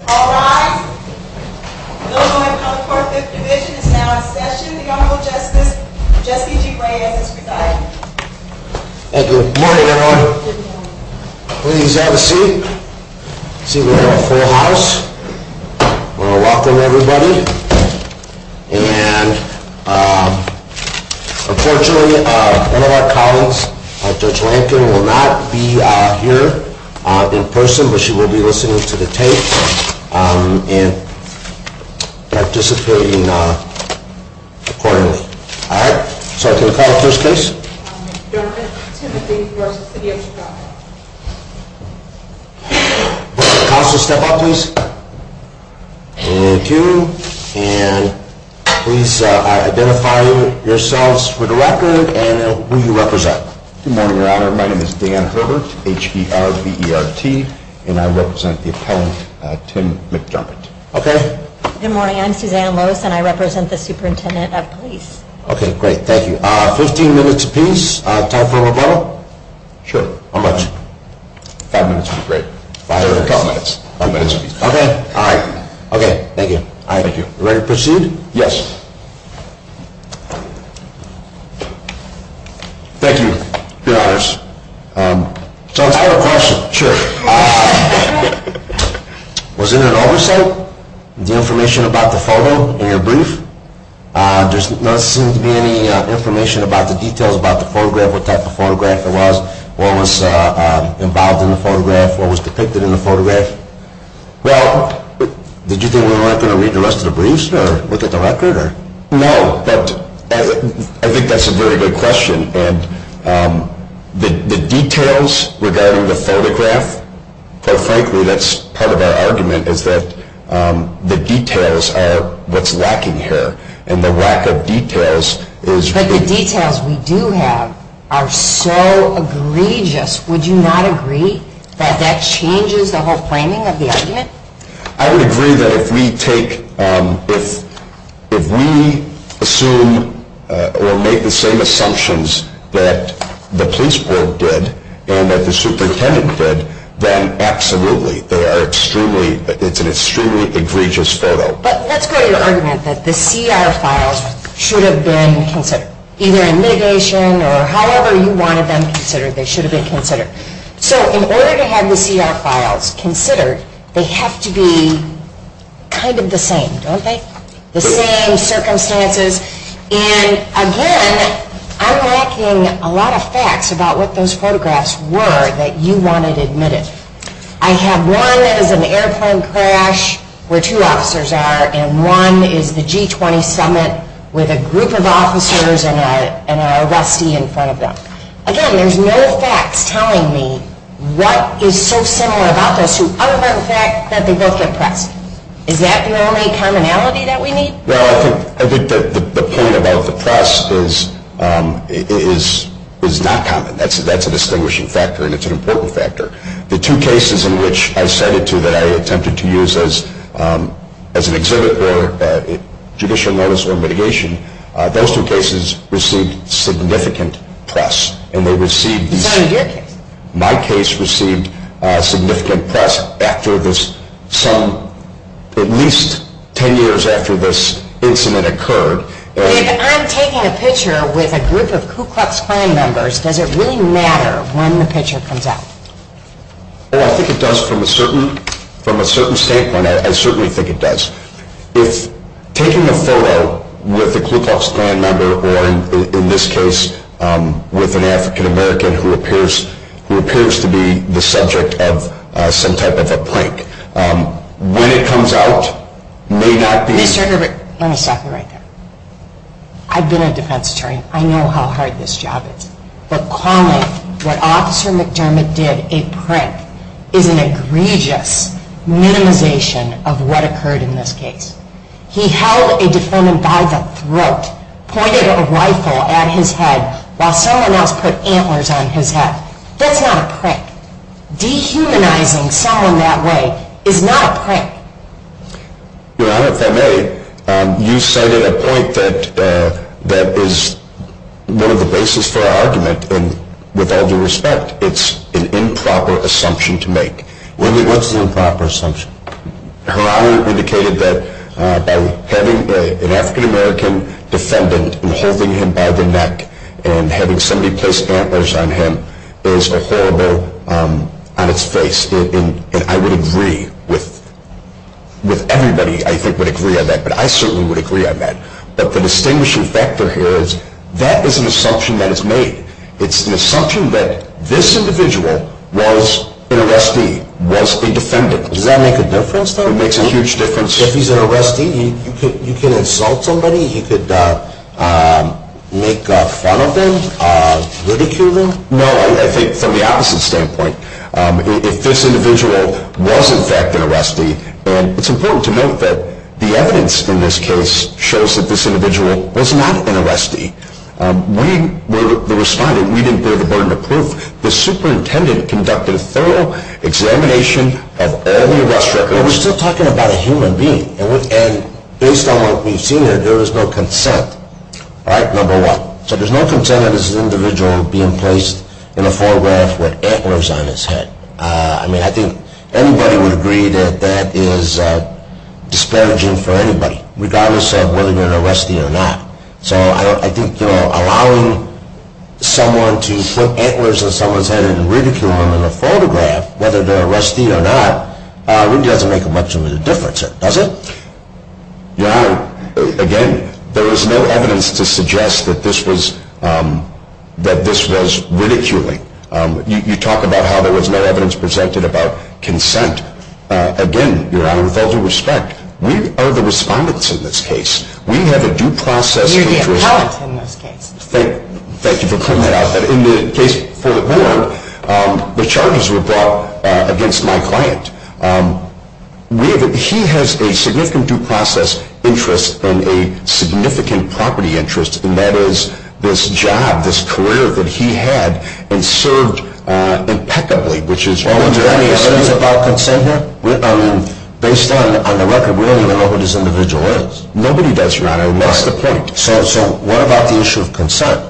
All rise. The Illinois Public Court Fifth Division is now in session. The Honorable Justice Jessie G. Reyes is presiding. Thank you. Good morning, everyone. Please have a seat. I see we have a full house. I want to welcome everybody. And, unfortunately, one of our colleagues, Judge Rankin, will not be here in person, but she will be listening to the tape and participating accordingly. All right. So I can call the first case. Dermott, Timothy v. City of Chicago. Counsel, step up, please. Thank you. And please identify yourselves for the record and who you represent. Good morning, Your Honor. My name is Dan Herbert, H-E-R-B-E-R-T, and I represent the appellant, Tim McDermott. Okay. Good morning. I'm Suzanne Lewis, and I represent the Superintendent of Police. Okay. Great. Thank you. Fifteen minutes apiece. Time for a rebuttal. Sure. How much? Five minutes would be great. Five minutes. Two minutes apiece. Okay. All right. Okay. Thank you. Thank you. All right. Ready to proceed? Yes. Thank you, Your Honors. So I have a question. Sure. Was there an oversight of the information about the photo in your brief? There doesn't seem to be any information about the details about the photograph, what type of photograph it was, what was involved in the photograph, what was depicted in the photograph. Well, did you think we weren't going to read the rest of the briefs or look at the record? No, but I think that's a very good question. And the details regarding the photograph, quite frankly, that's part of our argument, is that the details are what's lacking here. And the lack of details is really… But the details we do have are so egregious. Would you not agree that that changes the whole framing of the argument? I would agree that if we take – if we assume or make the same assumptions that the police board did and that the superintendent did, then absolutely, they are extremely – it's an extremely egregious photo. But let's go to your argument that the CR files should have been considered, either in mitigation or however you wanted them considered, they should have been considered. So in order to have the CR files considered, they have to be kind of the same, don't they? The same circumstances. And again, I'm lacking a lot of facts about what those photographs were that you wanted admitted. I have one that is an airplane crash where two officers are, and one is the G20 summit with a group of officers and an arrestee in front of them. Again, there's no facts telling me what is so similar about those two other than the fact that they both get pressed. Is that the only commonality that we need? Well, I think the point about the press is not common. That's a distinguishing factor and it's an important factor. The two cases in which I cited two that I attempted to use as an exhibit or judicial notice or mitigation, those two cases received significant press. My case received significant press at least ten years after this incident occurred. If I'm taking a picture with a group of Ku Klux Klan members, does it really matter when the picture comes out? I think it does from a certain standpoint. I certainly think it does. If taking a photo with a Ku Klux Klan member, or in this case with an African American who appears to be the subject of some type of a prank, when it comes out may not be... Mr. Herbert, let me stop you right there. I've been a defense attorney. I know how hard this job is. But calling what Officer McDermott did a prank is an egregious minimization of what occurred in this case. He held a defendant by the throat, pointed a rifle at his head while someone else put antlers on his head. That's not a prank. Dehumanizing someone that way is not a prank. Your Honor, if I may, you cited a point that is one of the basis for our argument. And with all due respect, it's an improper assumption to make. What's the improper assumption? Her Honor indicated that by having an African American defendant and holding him by the neck and having somebody place antlers on him is a horrible... on its face. And I would agree with everybody I think would agree on that, but I certainly would agree on that. But the distinguishing factor here is that is an assumption that is made. It's an assumption that this individual was an arrestee, was a defendant. Does that make a difference though? It makes a huge difference. If he's an arrestee, you can insult somebody? You could make fun of them? Ridicule them? No, I think from the opposite standpoint. If this individual was in fact an arrestee, and it's important to note that the evidence in this case shows that this individual was not an arrestee. We were the respondent. We didn't bear the burden of proof. The superintendent conducted a thorough examination of all the arrest records. But we're still talking about a human being. And based on what we've seen here, there is no consent. All right, number one. So there's no consent of this individual being placed in a photograph with antlers on his head. I mean, I think anybody would agree that that is disparaging for anybody, regardless of whether they're an arrestee or not. So I think allowing someone to put antlers on someone's head and ridicule them in a photograph, whether they're an arrestee or not, really doesn't make a much of a difference, does it? Your Honor, again, there is no evidence to suggest that this was ridiculing. You talk about how there was no evidence presented about consent. Again, Your Honor, with all due respect, we are the respondents in this case. We have a due process. You're the appellant in this case. Thank you for pointing that out. But in the case for Ward, the charges were brought against my client. He has a significant due process interest and a significant property interest, and that is this job, this career that he had, and served impeccably. Well, is there any evidence about consent here? Based on the record, we don't even know who this individual is. Nobody does, Your Honor, and that's the point. So what about the issue of consent?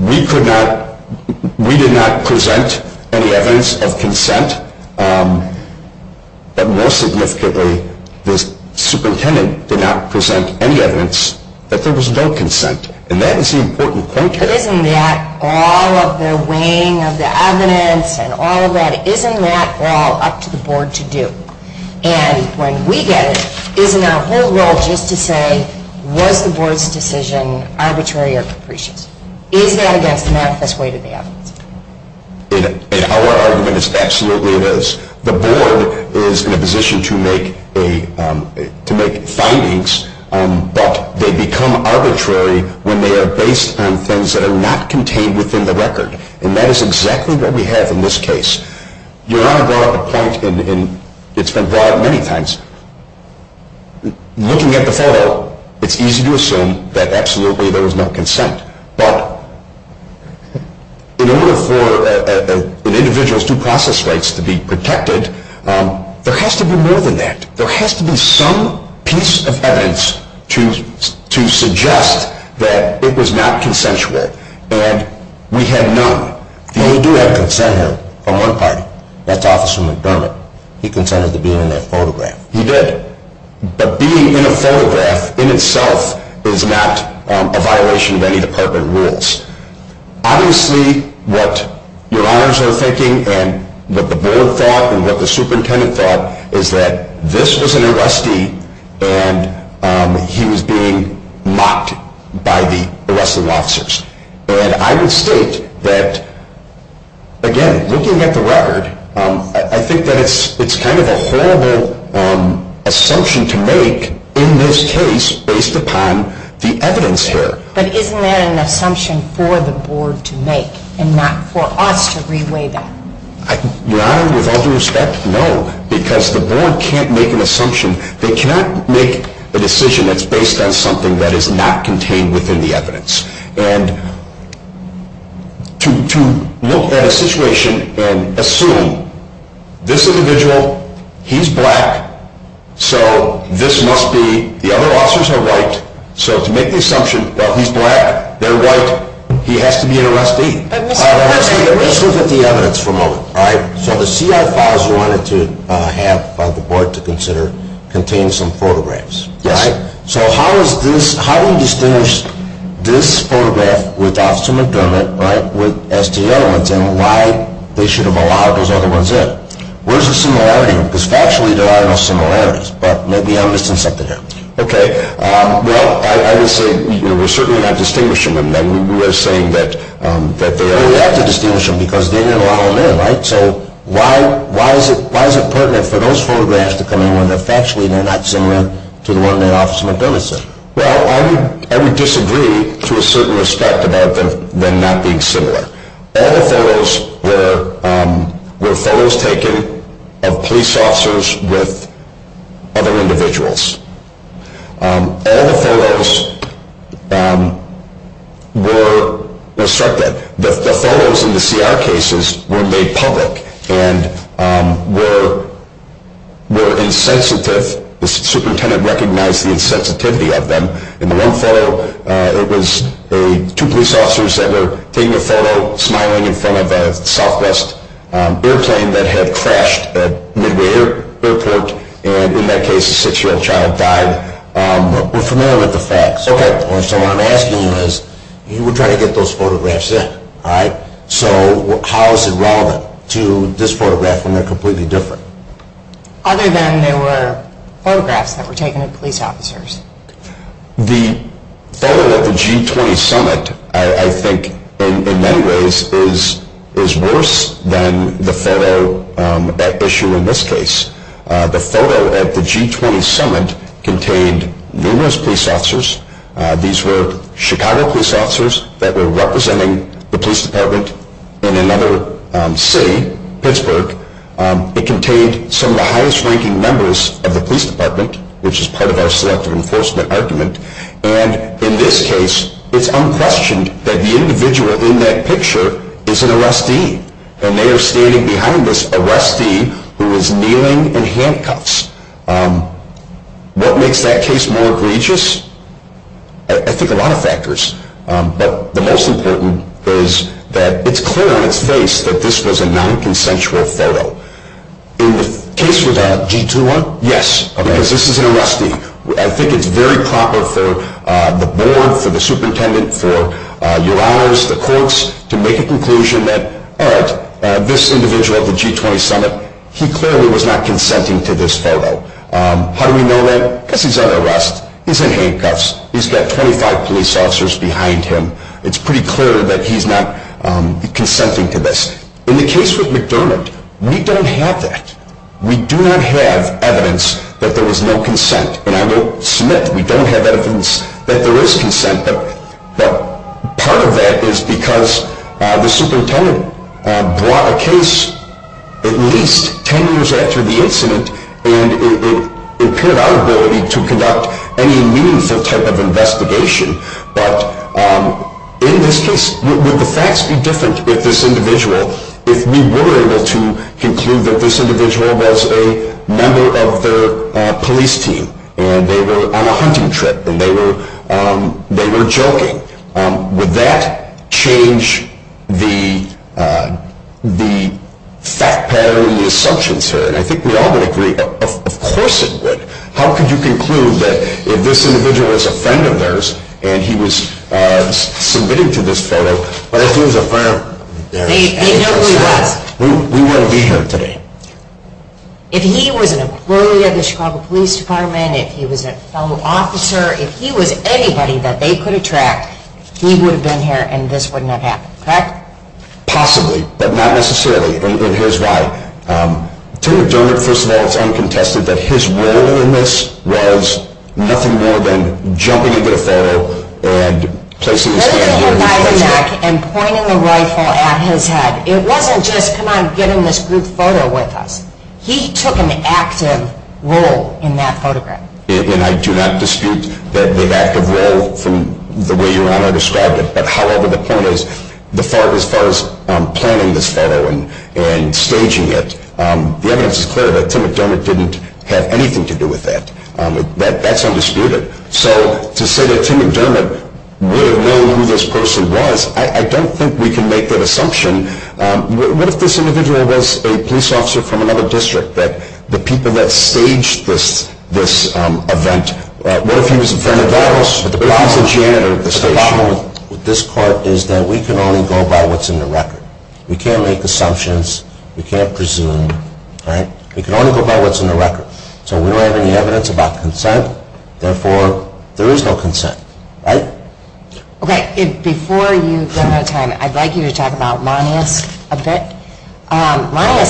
We did not present any evidence of consent, but more significantly, the superintendent did not present any evidence that there was no consent, and that is the important point here. But isn't that all of the weighing of the evidence and all of that, isn't that all up to the Board to do? And when we get it, isn't our whole role just to say, was the Board's decision arbitrary or capricious? Is that against the manifest weight of the evidence? In our argument, absolutely it is. The Board is in a position to make findings, but they become arbitrary when they are based on things that are not contained within the record, and that is exactly what we have in this case. Your Honor brought up a point, and it's been brought up many times. Looking at the photo, it's easy to assume that absolutely there was no consent, but in order for an individual's due process rights to be protected, there has to be more than that. There has to be some piece of evidence to suggest that it was not consensual, and we have none. The only do have consent here from one party, that's Officer McDermott. He consented to being in that photograph. He did. But being in a photograph in itself is not a violation of any Department rules. Obviously, what Your Honors are thinking and what the Board thought and what the Superintendent thought is that this was an arrestee and he was being mocked by the arresting officers. And I would state that, again, looking at the record, I think that it's kind of a horrible assumption to make in this case based upon the evidence here. But isn't that an assumption for the Board to make and not for us to reweigh that? Your Honor, with all due respect, no, because the Board can't make an assumption. They cannot make a decision that's based on something that is not contained within the evidence. And to look at a situation and assume this individual, he's black, so this must be the other officers are white, so to make the assumption that he's black, they're white, he has to be an arrestee. Let's look at the evidence for a moment. So the CI files you wanted to have by the Board to consider contain some photographs. Yes. So how do you distinguish this photograph with Officer McDermott, right, with as to the other ones and why they should have allowed those other ones in? Where's the similarity? Because factually there are no similarities, but maybe I'm missing something here. Okay. Well, I would say we're certainly not distinguishing them. We're saying that they only have to distinguish them because they didn't allow them in, right? So why is it pertinent for those photographs to come in if actually they're not similar to the one that Officer McDermott sent? Well, I would disagree to a certain respect about them not being similar. All the photos were photos taken of police officers with other individuals. All the photos were obstructed. The photos in the CR cases were made public and were insensitive. The superintendent recognized the insensitivity of them. In the one photo, it was two police officers that were taking a photo, smiling in front of a Southwest airplane that had crashed at Midway Airport, and in that case a 6-year-old child died. We're familiar with the facts. Okay. So what I'm asking you is, you were trying to get those photographs in, right? So how is it relevant to this photograph when they're completely different? Other than they were photographs that were taken of police officers. The photo at the G20 Summit, I think, in many ways, is worse than the photo at issue in this case. The photo at the G20 Summit contained numerous police officers. These were Chicago police officers that were representing the police department in another city, Pittsburgh. It contained some of the highest-ranking members of the police department, which is part of our selective enforcement argument. And in this case, it's unquestioned that the individual in that picture is an arrestee, and they are standing behind this arrestee who is kneeling in handcuffs. What makes that case more egregious? I think a lot of factors. But the most important is that it's clear on its face that this was a non-consensual photo. In the case with the G21? Yes, because this is an arrestee. I think it's very proper for the board, for the superintendent, for your honors, the courts, to make a conclusion that, all right, this individual at the G20 Summit, he clearly was not consenting to this photo. How do we know that? Because he's under arrest. He's in handcuffs. He's got 25 police officers behind him. It's pretty clear that he's not consenting to this. In the case with McDermott, we don't have that. We do not have evidence that there was no consent. And I will submit that we don't have evidence that there is consent. But part of that is because the superintendent brought a case at least 10 years after the incident and it appeared out of nobility to conduct any meaningful type of investigation. But in this case, would the facts be different if this individual, if we were able to conclude that this individual was a member of the police team and they were on a hunting trip and they were joking, would that change the fact pattern and the assumptions here? And I think we all would agree, of course it would. How could you conclude that if this individual was a friend of theirs and he was submitting to this photo, but if he was a friend of theirs, we wouldn't be here today? If he was an employee of the Chicago Police Department, if he was a fellow officer, if he was anybody that they could attract, he would have been here and this would not have happened, correct? Possibly, but not necessarily. And here's why. To McDermott, first of all, it's uncontested that his role in this was nothing more than jumping into the photo and placing his hand here. Lifting him by the neck and pointing the rifle at his head. It wasn't just, come on, get him this group photo with us. He took an active role in that photograph. And I do not dispute the active role from the way Your Honor described it, but however the point is, as far as planning this photo and staging it, the evidence is clear that Tim McDermott didn't have anything to do with that. That's undisputed. So to say that Tim McDermott would have known who this person was, I don't think we can make that assumption. What if this individual was a police officer from another district, the people that staged this event? What if he was a janitor at the station? The problem with this court is that we can only go by what's in the record. We can't make assumptions. We can't presume. We can only go by what's in the record. So we don't have any evidence about consent. Therefore, there is no consent, right? Okay, before you run out of time, I'd like you to talk about Monius a bit. Monius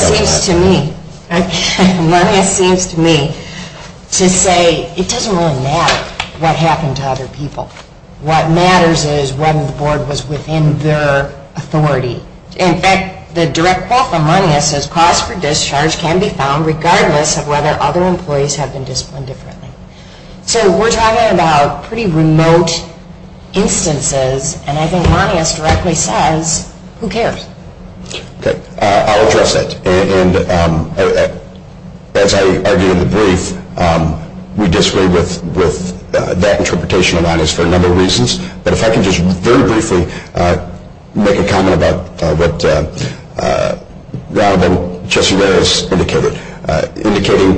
seems to me to say it doesn't really matter what happened to other people. What matters is whether the board was within their authority. In fact, the direct quote from Monius says, cost for discharge can be found regardless of whether other employees have been disciplined differently. So we're talking about pretty remote instances, and I think Monius directly says, who cares? Okay, I'll address that. As I argued in the brief, we disagree with that interpretation of Monius for a number of reasons. But if I can just very briefly make a comment about what Ronald and Jesse Reyes indicated,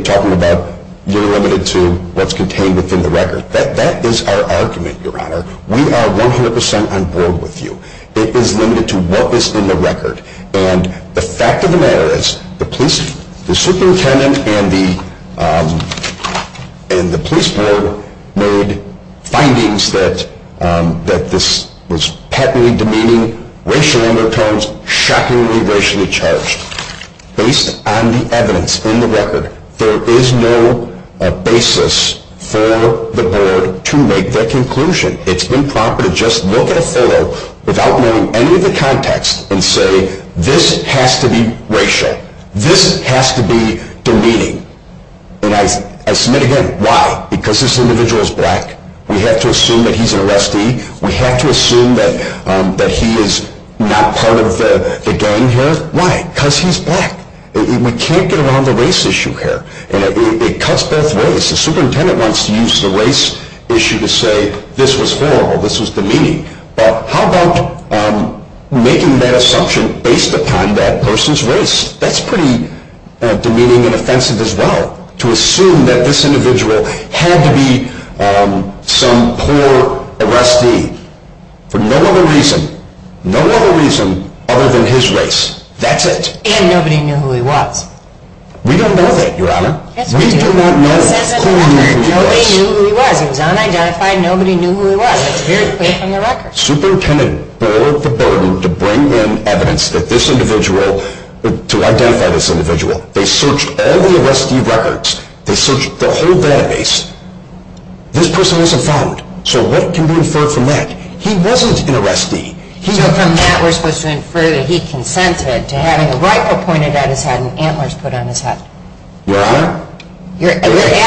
talking about you're limited to what's contained within the record. That is our argument, Your Honor. We are 100% on board with you. It is limited to what is in the record. And the fact of the matter is the police superintendent and the police board made findings that this was patently demeaning, racial undertones, shockingly racially charged. Based on the evidence in the record, there is no basis for the board to make their conclusion. It's been proper to just look at a photo without knowing any of the context and say, this has to be racial. This has to be demeaning. And I submit again, why? Because this individual is black? We have to assume that he's an arrestee? We have to assume that he is not part of the gang here? Why? Because he's black. We can't get around the race issue here. It cuts both ways. The superintendent wants to use the race issue to say this was horrible, this was demeaning. But how about making that assumption based upon that person's race? That's pretty demeaning and offensive as well, to assume that this individual had to be some poor arrestee for no other reason, other than his race. That's it. And nobody knew who he was. We don't know that, Your Honor. We do not know who he was. Nobody knew who he was. He was unidentified. Nobody knew who he was. That's very clear from the record. Superintendent bore the burden to bring in evidence that this individual, to identify this individual. They searched all the arrestee records. They searched the whole database. This person wasn't found. So what can be inferred from that? He wasn't an arrestee. So from that we're supposed to infer that he consented to having a rifle pointed at his head and antlers put on his head. Your Honor? You're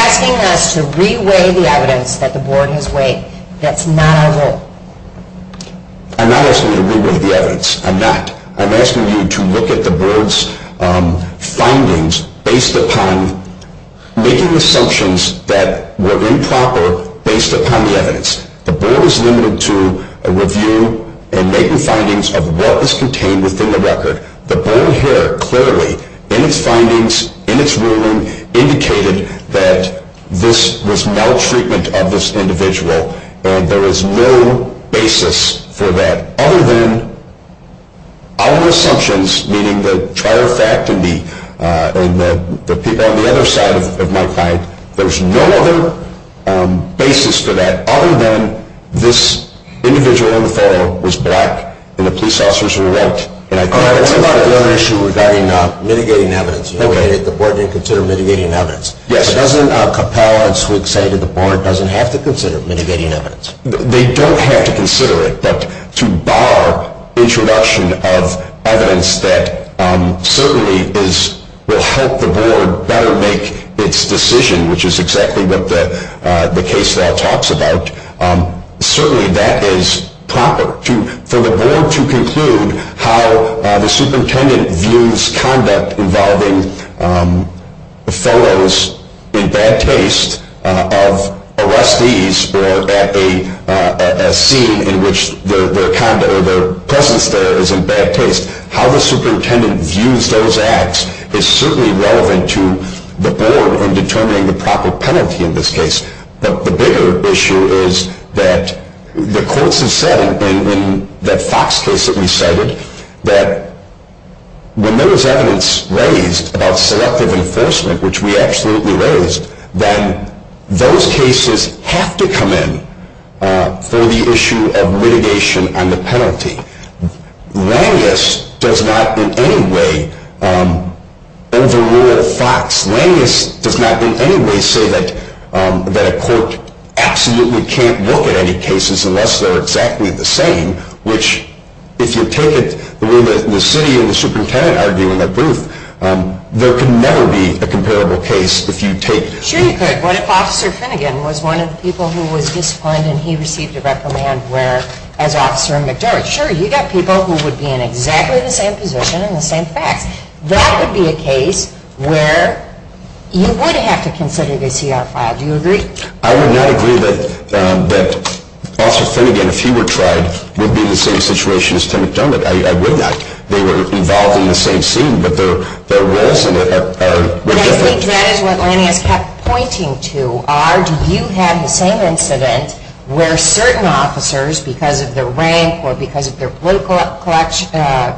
asking us to re-weigh the evidence that the Board has weighed. That's not our goal. I'm not asking you to re-weigh the evidence. I'm not. I'm asking you to look at the Board's findings based upon making assumptions that were improper based upon the evidence. The Board is limited to a review and making findings of what is contained within the record. The Board here clearly in its findings, in its ruling, indicated that this was maltreatment of this individual, and there is no basis for that other than our assumptions, meaning the trial of fact and the people on the other side of my client. There's no other basis for that other than this individual on the phone was black and the police officers were white. I have another issue regarding mitigating evidence. The Board didn't consider mitigating evidence. Yes. Doesn't a compel us to say that the Board doesn't have to consider mitigating evidence? They don't have to consider it, but to bar introduction of evidence that certainly will help the Board better make its decision, which is exactly what the case law talks about, certainly that is proper for the Board to conclude how the superintendent views conduct involving photos in bad taste of arrestees or a scene in which their conduct or their presence there is in bad taste, how the superintendent views those acts is certainly relevant to the Board in determining the proper penalty in this case. But the bigger issue is that the courts have said in that Fox case that we cited that when there was evidence raised about selective enforcement, which we absolutely raised, then those cases have to come in for the issue of mitigation on the penalty. Langis does not in any way overrule Fox. Langis does not in any way say that a court absolutely can't look at any cases unless they're exactly the same, which if you take it the way the city and the superintendent argue in their proof, there can never be a comparable case if you take it. Sure you could. What if Officer Finnegan was one of the people who was disciplined and he received a reprimand as Officer McDermott? Sure, you've got people who would be in exactly the same position and the same facts. That would be a case where you would have to consider the CR file. Do you agree? I would not agree that Officer Finnegan, if he were tried, would be in the same situation as Tim McDermott. I would not. They were involved in the same scene, but their roles in it are different. I think that is what Langis kept pointing to, do you have the same incident where certain officers, because of their rank or because of their political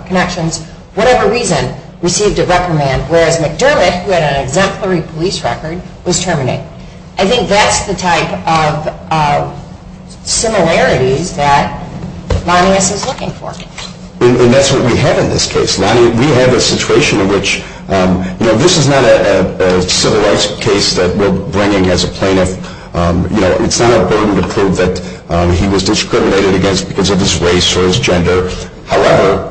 connections, whatever reason, received a reprimand, whereas McDermott, who had an exemplary police record, was terminated. I think that's the type of similarities that Langis is looking for. And that's what we have in this case. We have a situation in which this is not a civil rights case that we're bringing as a plaintiff. It's not a burden to prove that he was discriminated against because of his race or his gender. However,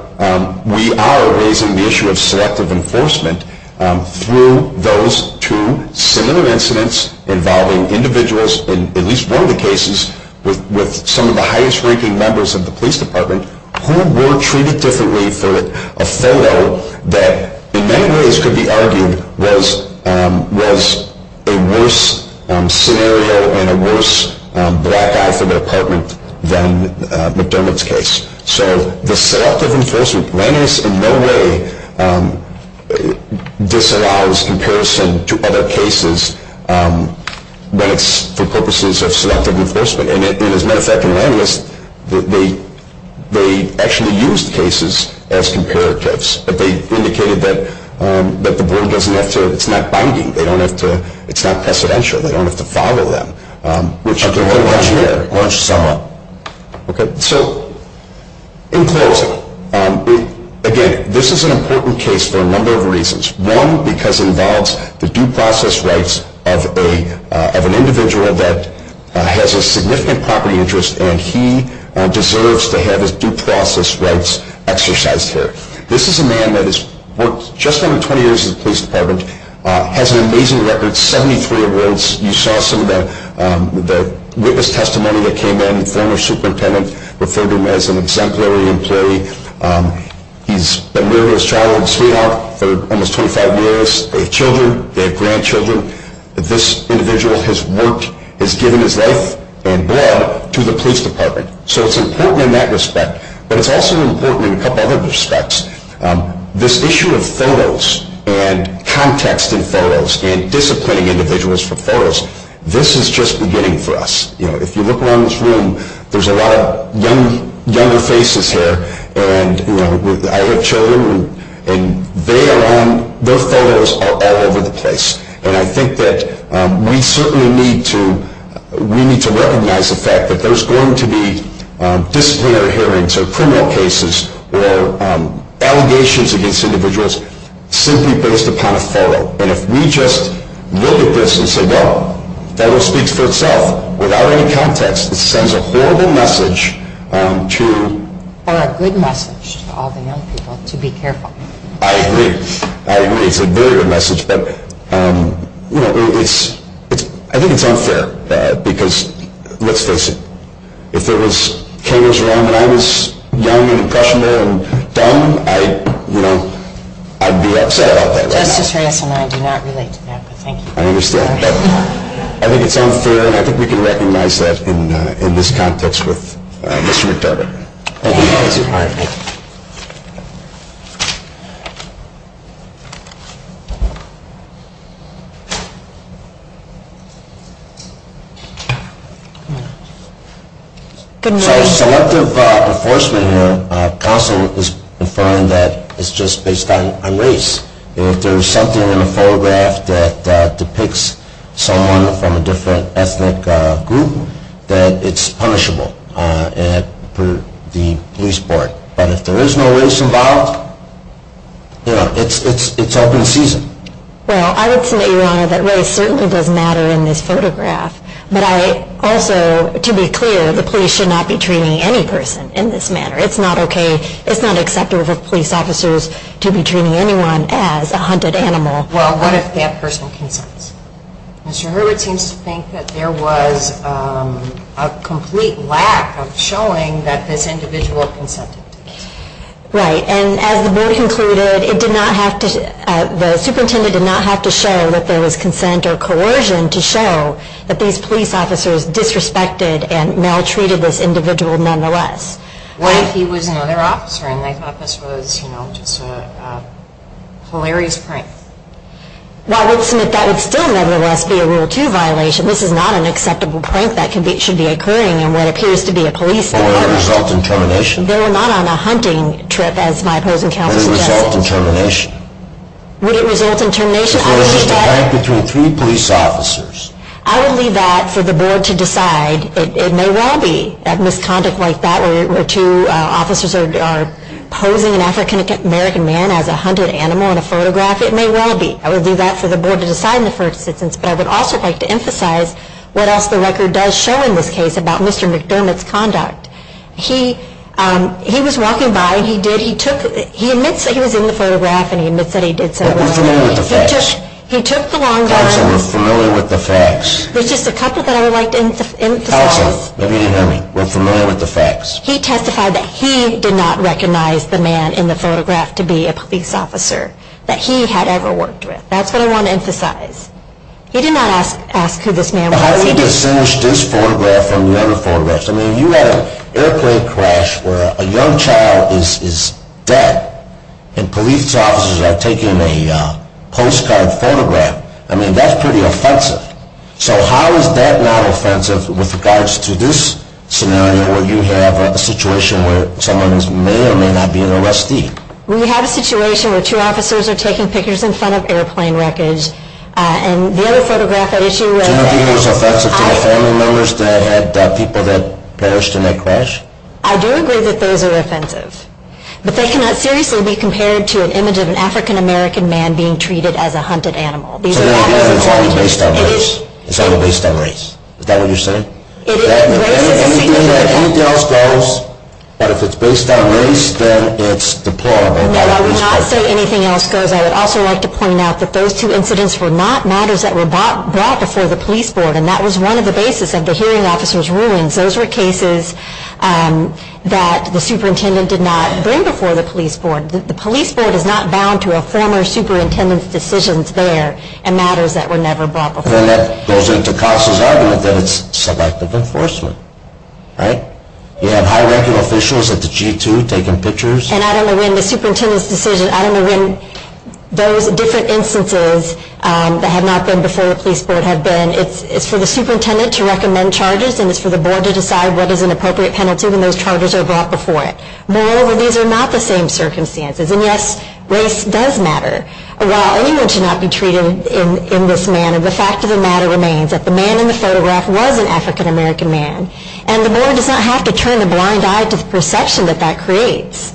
we are raising the issue of selective enforcement through those two similar incidents involving individuals in at least one of the cases with some of the highest ranking members of the police department who were treated differently for a photo that in many ways could be argued was a worse scenario and a worse black eye for the department than McDermott's case. So the selective enforcement, Langis in no way disallows comparison to other cases when it's for purposes of selective enforcement. And as a matter of fact, in Langis, they actually used cases as comparatives, but they indicated that the board doesn't have to. It's not binding. It's not precedential. They don't have to follow them. Okay. So in closing, again, this is an important case for a number of reasons. One, because it involves the due process rights of an individual that has a significant property interest and he deserves to have his due process rights exercised here. This is a man that has worked just under 20 years in the police department, has an amazing record, 73 awards. You saw some of the witness testimony that came in. The former superintendent referred him as an exemplary employee. He's been with his child in Sweden for almost 25 years. They have children. They have grandchildren. This individual has worked, has given his life and blood to the police department. So it's important in that respect. But it's also important in a couple other respects. This issue of photos and context in photos and disciplining individuals for photos, this is just beginning for us. If you look around this room, there's a lot of younger faces here. I have children, and their photos are all over the place. And I think that we certainly need to recognize the fact that there's going to be disciplinary hearings or criminal cases or allegations against individuals simply based upon a photo. And if we just look at this and say, well, that all speaks for itself. Without any context, it sends a horrible message to... Or a good message to all the young people to be careful. I agree. I agree. It's a very good message. But, you know, I think it's unfair because, let's face it, if there was cameras around when I was young and impressionable and dumb, I'd be upset about that right now. Justice Reyes and I do not relate to that, but thank you. I understand. I think it's unfair, and I think we can recognize that in this context with Mr. McDermott. Thank you. Thank you. All right. So selective enforcement counsel is affirming that it's just based on race. And if there's something in the photograph that depicts someone from a different ethnic group, then it's punishable per the police board. But if there is no race involved, you know, it's open season. Well, I would say, Your Honor, that race certainly does matter in this photograph. But I also, to be clear, the police should not be treating any person in this manner. It's not okay. It's not acceptable for police officers to be treating anyone as a hunted animal. Well, what if that person consents? Mr. Hurwitz seems to think that there was a complete lack of showing that this individual consented. Right. And as the board concluded, the superintendent did not have to show that there was consent or coercion to show that these police officers disrespected and maltreated this individual nonetheless. What if he was another officer and they thought this was, you know, just a hilarious prank? Well, I would submit that would still nevertheless be a Rule 2 violation. This is not an acceptable prank that should be occurring in what appears to be a police department. But would it result in termination? They were not on a hunting trip, as my opposing counsel suggests. Would it result in termination? Would it result in termination? Because there was just a prank between three police officers. I would leave that for the board to decide. It may well be that misconduct like that, where two officers are posing an African-American man as a hunted animal in a photograph, it may well be. I would leave that for the board to decide in the first instance. But I would also like to emphasize what else the record does show in this case about Mr. McDermott's conduct. He was walking by and he admits that he was in the photograph and he admits that he did so. But we're familiar with the facts. He took the long time. Counsel, we're familiar with the facts. There's just a couple that I would like to emphasize. Counsel, if you didn't hear me, we're familiar with the facts. He testified that he did not recognize the man in the photograph to be a police officer, that he had ever worked with. That's what I want to emphasize. He did not ask who this man was. How do you distinguish this photograph from the other photographs? I mean, you had an airplane crash where a young child is dead and police officers are taking a postcard photograph. I mean, that's pretty offensive. So how is that not offensive with regards to this scenario where you have a situation where someone may or may not be an arrestee? We have a situation where two officers are taking pictures in front of airplane wreckage. And the other photograph I issued was... So you don't think it was offensive to the family members that had people that perished in that crash? I do agree that those are offensive. But they cannot seriously be compared to an image of an African-American man being treated as a hunted animal. So that means it's only based on race? It is. It's only based on race. Is that what you're saying? Anything else goes. But if it's based on race, then it's deplorable. No, I would not say anything else goes. I would also like to point out that those two incidents were not matters that were brought before the police board. And that was one of the basis of the hearing officer's ruins. Those were cases that the superintendent did not bring before the police board. The police board is not bound to a former superintendent's decisions there and matters that were never brought before. And then that goes into Cox's argument that it's selective enforcement, right? You have high-ranking officials at the G2 taking pictures. And I don't know when the superintendent's decision... I don't know when those different instances that have not been before the police board have been. It's for the superintendent to recommend charges and it's for the board to decide what is an appropriate penalty when those charges are brought before it. Moreover, these are not the same circumstances. And, yes, race does matter. While anyone should not be treated in this manner, the fact of the matter remains that the man in the photograph was an African-American man. And the board does not have to turn a blind eye to the perception that that creates.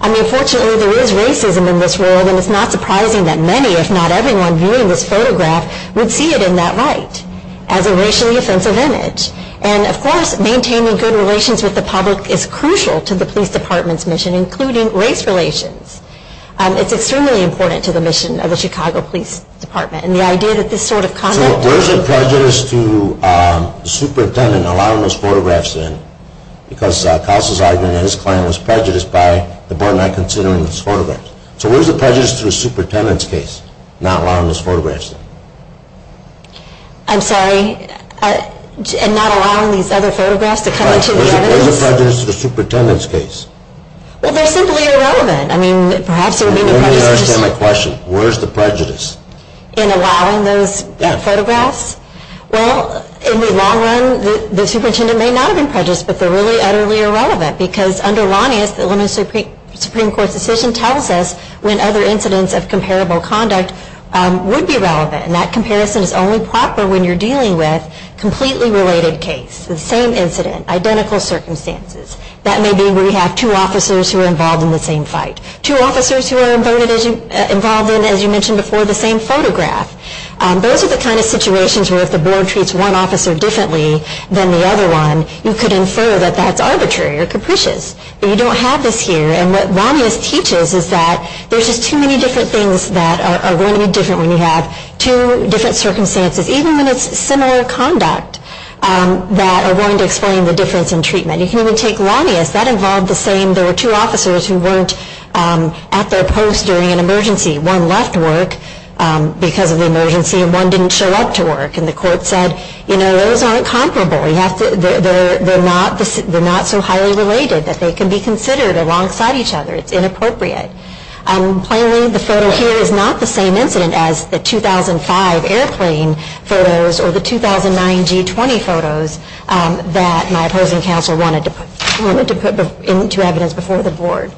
I mean, fortunately, there is racism in this world and it's not surprising that many, if not everyone, viewing this photograph would see it in that light as a racially offensive image. And, of course, maintaining good relations with the public is crucial to the police department's mission, including race relations. It's extremely important to the mission of the Chicago Police Department. And the idea that this sort of conduct... So where's the prejudice to the superintendent allowing those photographs in? Because Koss is arguing that his client was prejudiced by the board not considering those photographs. So where's the prejudice to the superintendent's case, not allowing those photographs in? I'm sorry? In not allowing these other photographs to come into the evidence? Where's the prejudice to the superintendent's case? Well, they're simply irrelevant. I mean, perhaps it would be... Let me ask you a question. Where's the prejudice? In allowing those photographs? Yes. Well, in the long run, the superintendent may not have been prejudiced, but they're really utterly irrelevant. Because under Lanius, the Illinois Supreme Court's decision tells us when other incidents of comparable conduct would be relevant. And that comparison is only proper when you're dealing with a completely related case, the same incident, identical circumstances. That may be where you have two officers who are involved in the same fight. Two officers who are involved in, as you mentioned before, the same photograph. Those are the kind of situations where if the board treats one officer differently than the other one, you could infer that that's arbitrary or capricious. But you don't have this here, and what Lanius teaches is that there's just too many different things that are going to be different when you have two different circumstances, even when it's similar conduct, that are going to explain the difference in treatment. You can even take Lanius. That involved the same. There were two officers who weren't at their post during an emergency. One left work because of the emergency, and one didn't show up to work. And the court said, you know, those aren't comparable. They're not so highly related that they can be considered alongside each other. It's inappropriate. Plainly, the photo here is not the same incident as the 2005 airplane photos or the 2009 G20 photos that my opposing counsel wanted to put into evidence before the board.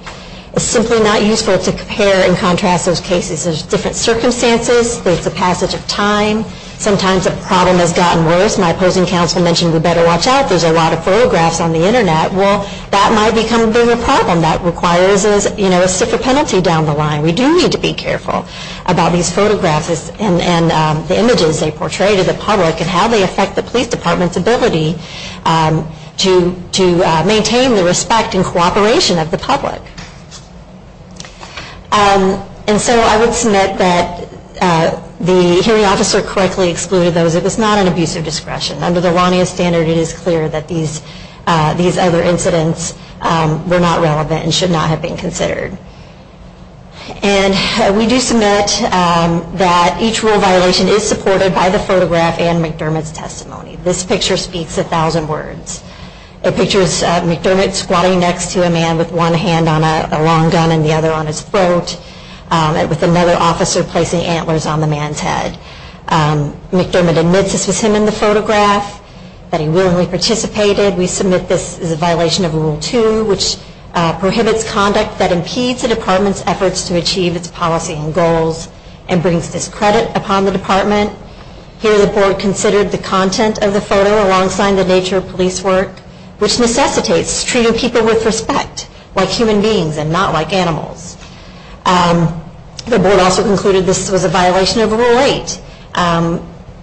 It's simply not useful to compare and contrast those cases. There's different circumstances. There's the passage of time. Sometimes a problem has gotten worse. My opposing counsel mentioned we better watch out. There's a lot of photographs on the Internet. Well, that might become a bigger problem. That requires, you know, a separate penalty down the line. We do need to be careful about these photographs and the images they portray to the public and how they affect the police department's ability to maintain the respect and cooperation of the public. And so I would submit that the hearing officer correctly excluded those. It was not an abuse of discretion. Under the Lanius standard, it is clear that these other incidents were not relevant and should not have been considered. And we do submit that each rule violation is supported by the photograph and McDermott's testimony. This picture speaks a thousand words. The picture is McDermott squatting next to a man with one hand on a long gun and the other on his throat with another officer placing antlers on the man's head. McDermott admits this was him in the photograph, that he willingly participated. We submit this is a violation of Rule 2, which prohibits conduct that impedes a department's efforts to achieve its policy and goals and brings discredit upon the department. Here the board considered the content of the photo alongside the nature of police work, which necessitates treating people with respect, like human beings and not like animals. The board also concluded this was a violation of Rule 8,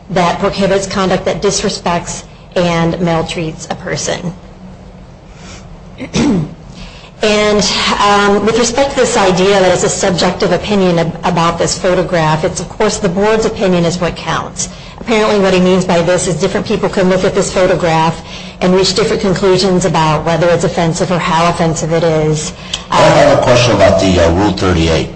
that prohibits conduct that disrespects and maltreats a person. And with respect to this idea that it's a subjective opinion about this photograph, it's of course the board's opinion is what counts. Apparently what he means by this is different people can look at this photograph and reach different conclusions about whether it's offensive or how offensive it is. I have a question about the Rule 38.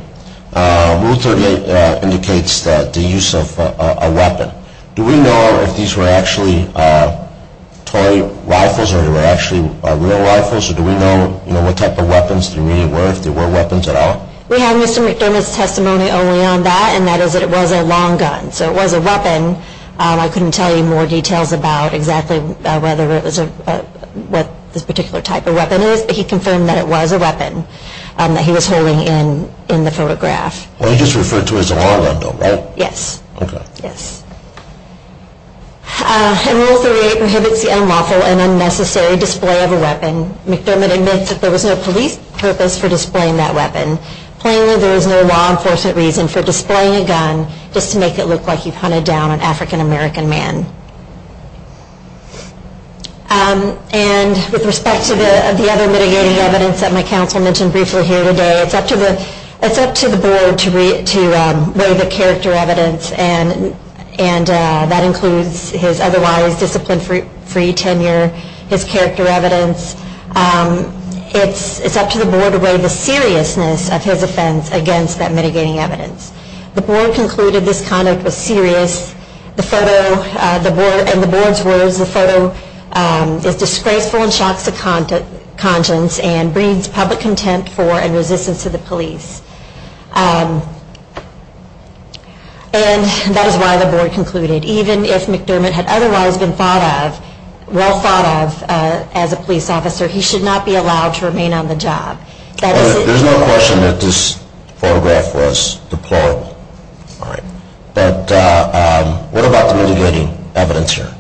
Rule 38 indicates the use of a weapon. Do we know if these were actually toy rifles or if they were actually real rifles? Do we know what type of weapons they really were, if they were weapons at all? We have Mr. McDermott's testimony only on that, and that is that it was a long gun. So it was a weapon. I couldn't tell you more details about exactly what this particular type of weapon is, but he confirmed that it was a weapon that he was holding in the photograph. He just referred to it as a long gun, though, right? Yes. Okay. Yes. And Rule 38 prohibits the unlawful and unnecessary display of a weapon. McDermott admits that there was no police purpose for displaying that weapon. Plainly, there is no law enforcement reason for displaying a gun just to make it look like you've hunted down an African-American man. And with respect to the other mitigating evidence that my counsel mentioned briefly here today, it's up to the Board to weigh the character evidence, and that includes his otherwise discipline-free tenure, his character evidence. It's up to the Board to weigh the seriousness of his offense against that mitigating evidence. The Board concluded this conduct was serious. And the Board's words, the photo is disgraceful and shocks the conscience and breeds public contempt for and resistance to the police. And that is why the Board concluded, even if McDermott had otherwise been well thought of as a police officer, he should not be allowed to remain on the job. There's no question that this photograph was deplorable. All right. But what about the mitigating evidence here,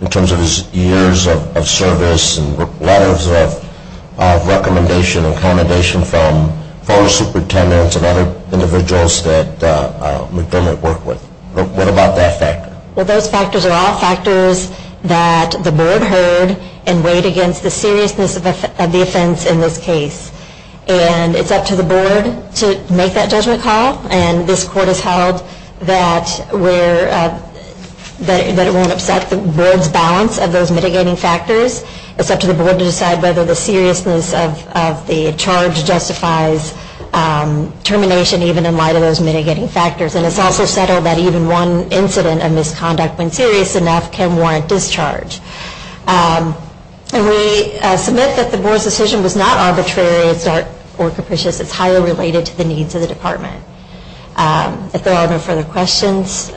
in terms of his years of service and letters of recommendation and commendation from former superintendents and other individuals that McDermott worked with? What about that factor? Well, those factors are all factors that the Board heard and weighed against the seriousness of the offense in this case. And it's up to the Board to make that judgment call, and this Court has held that it won't upset the Board's balance of those mitigating factors. It's up to the Board to decide whether the seriousness of the charge justifies termination, even in light of those mitigating factors. And it's also settled that even one incident of misconduct, when serious enough, can warrant discharge. And we submit that the Board's decision was not arbitrary or capricious. It's highly related to the needs of the Department. If there are no further questions,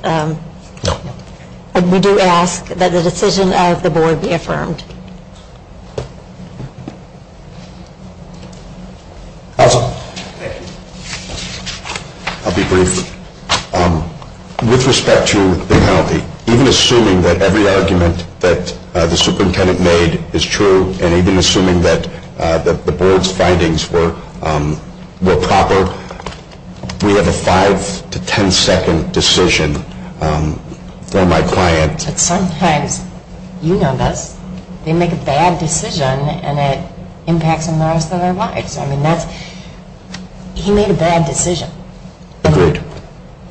we do ask that the decision of the Board be affirmed. Counsel. Thank you. I'll be brief. With respect to the penalty, even assuming that every argument that the superintendent made is true, and even assuming that the Board's findings were proper, we have a five- to ten-second decision for my client. But sometimes, you know this, they make a bad decision and it impacts them the rest of their lives. I mean, he made a bad decision. Agreed.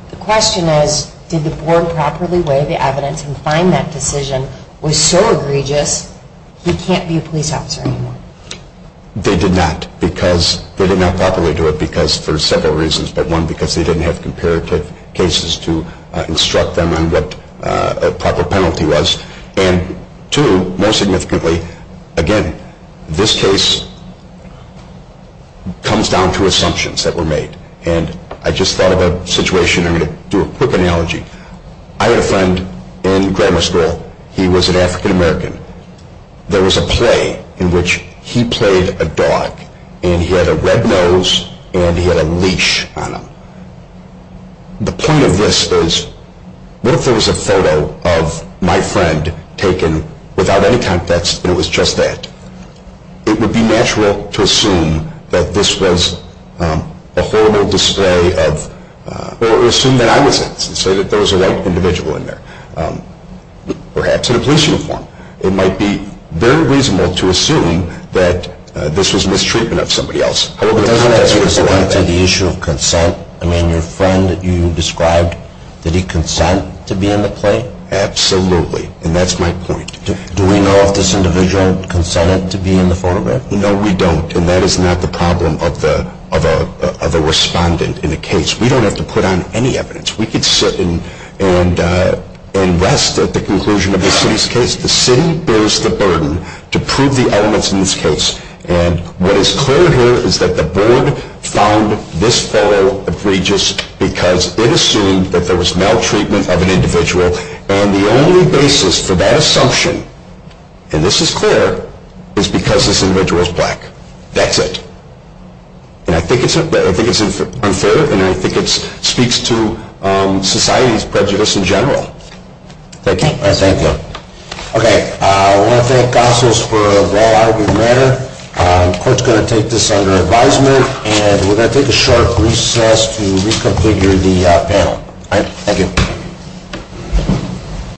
The question is, did the Board properly weigh the evidence and find that decision was so egregious he can't be a police officer anymore? They did not. They did not properly do it for several reasons. But one, because they didn't have comparative cases to instruct them on what a proper penalty was. And two, most significantly, again, this case comes down to assumptions that were made. And I just thought of a situation. I'm going to do a quick analogy. I had a friend in grammar school. He was an African-American. There was a play in which he played a dog and he had a red nose and he had a leash on him. The point of this is, what if there was a photo of my friend taken without any context and it was just that? It would be natural to assume that this was a horrible display of, or assume that I was it and say that there was a white individual in there, perhaps in a police uniform. It might be very reasonable to assume that this was mistreatment of somebody else. But doesn't that get to the issue of consent? I mean, your friend that you described, did he consent to be in the play? Absolutely, and that's my point. Do we know if this individual consented to be in the photograph? No, we don't, and that is not the problem of a respondent in a case. We don't have to put on any evidence. We could sit and rest at the conclusion of the city's case. The city bears the burden to prove the elements in this case. And what is clear here is that the board found this photo egregious because it assumed that there was maltreatment of an individual. And the only basis for that assumption, and this is clear, is because this individual is black. That's it. And I think it's unfair, and I think it speaks to society's prejudice in general. Thank you. Thank you. Okay, I want to thank Gossels for a well-argued matter. The court's going to take this under advisement, and we're going to take a short recess to re-complete the panel. Thank you.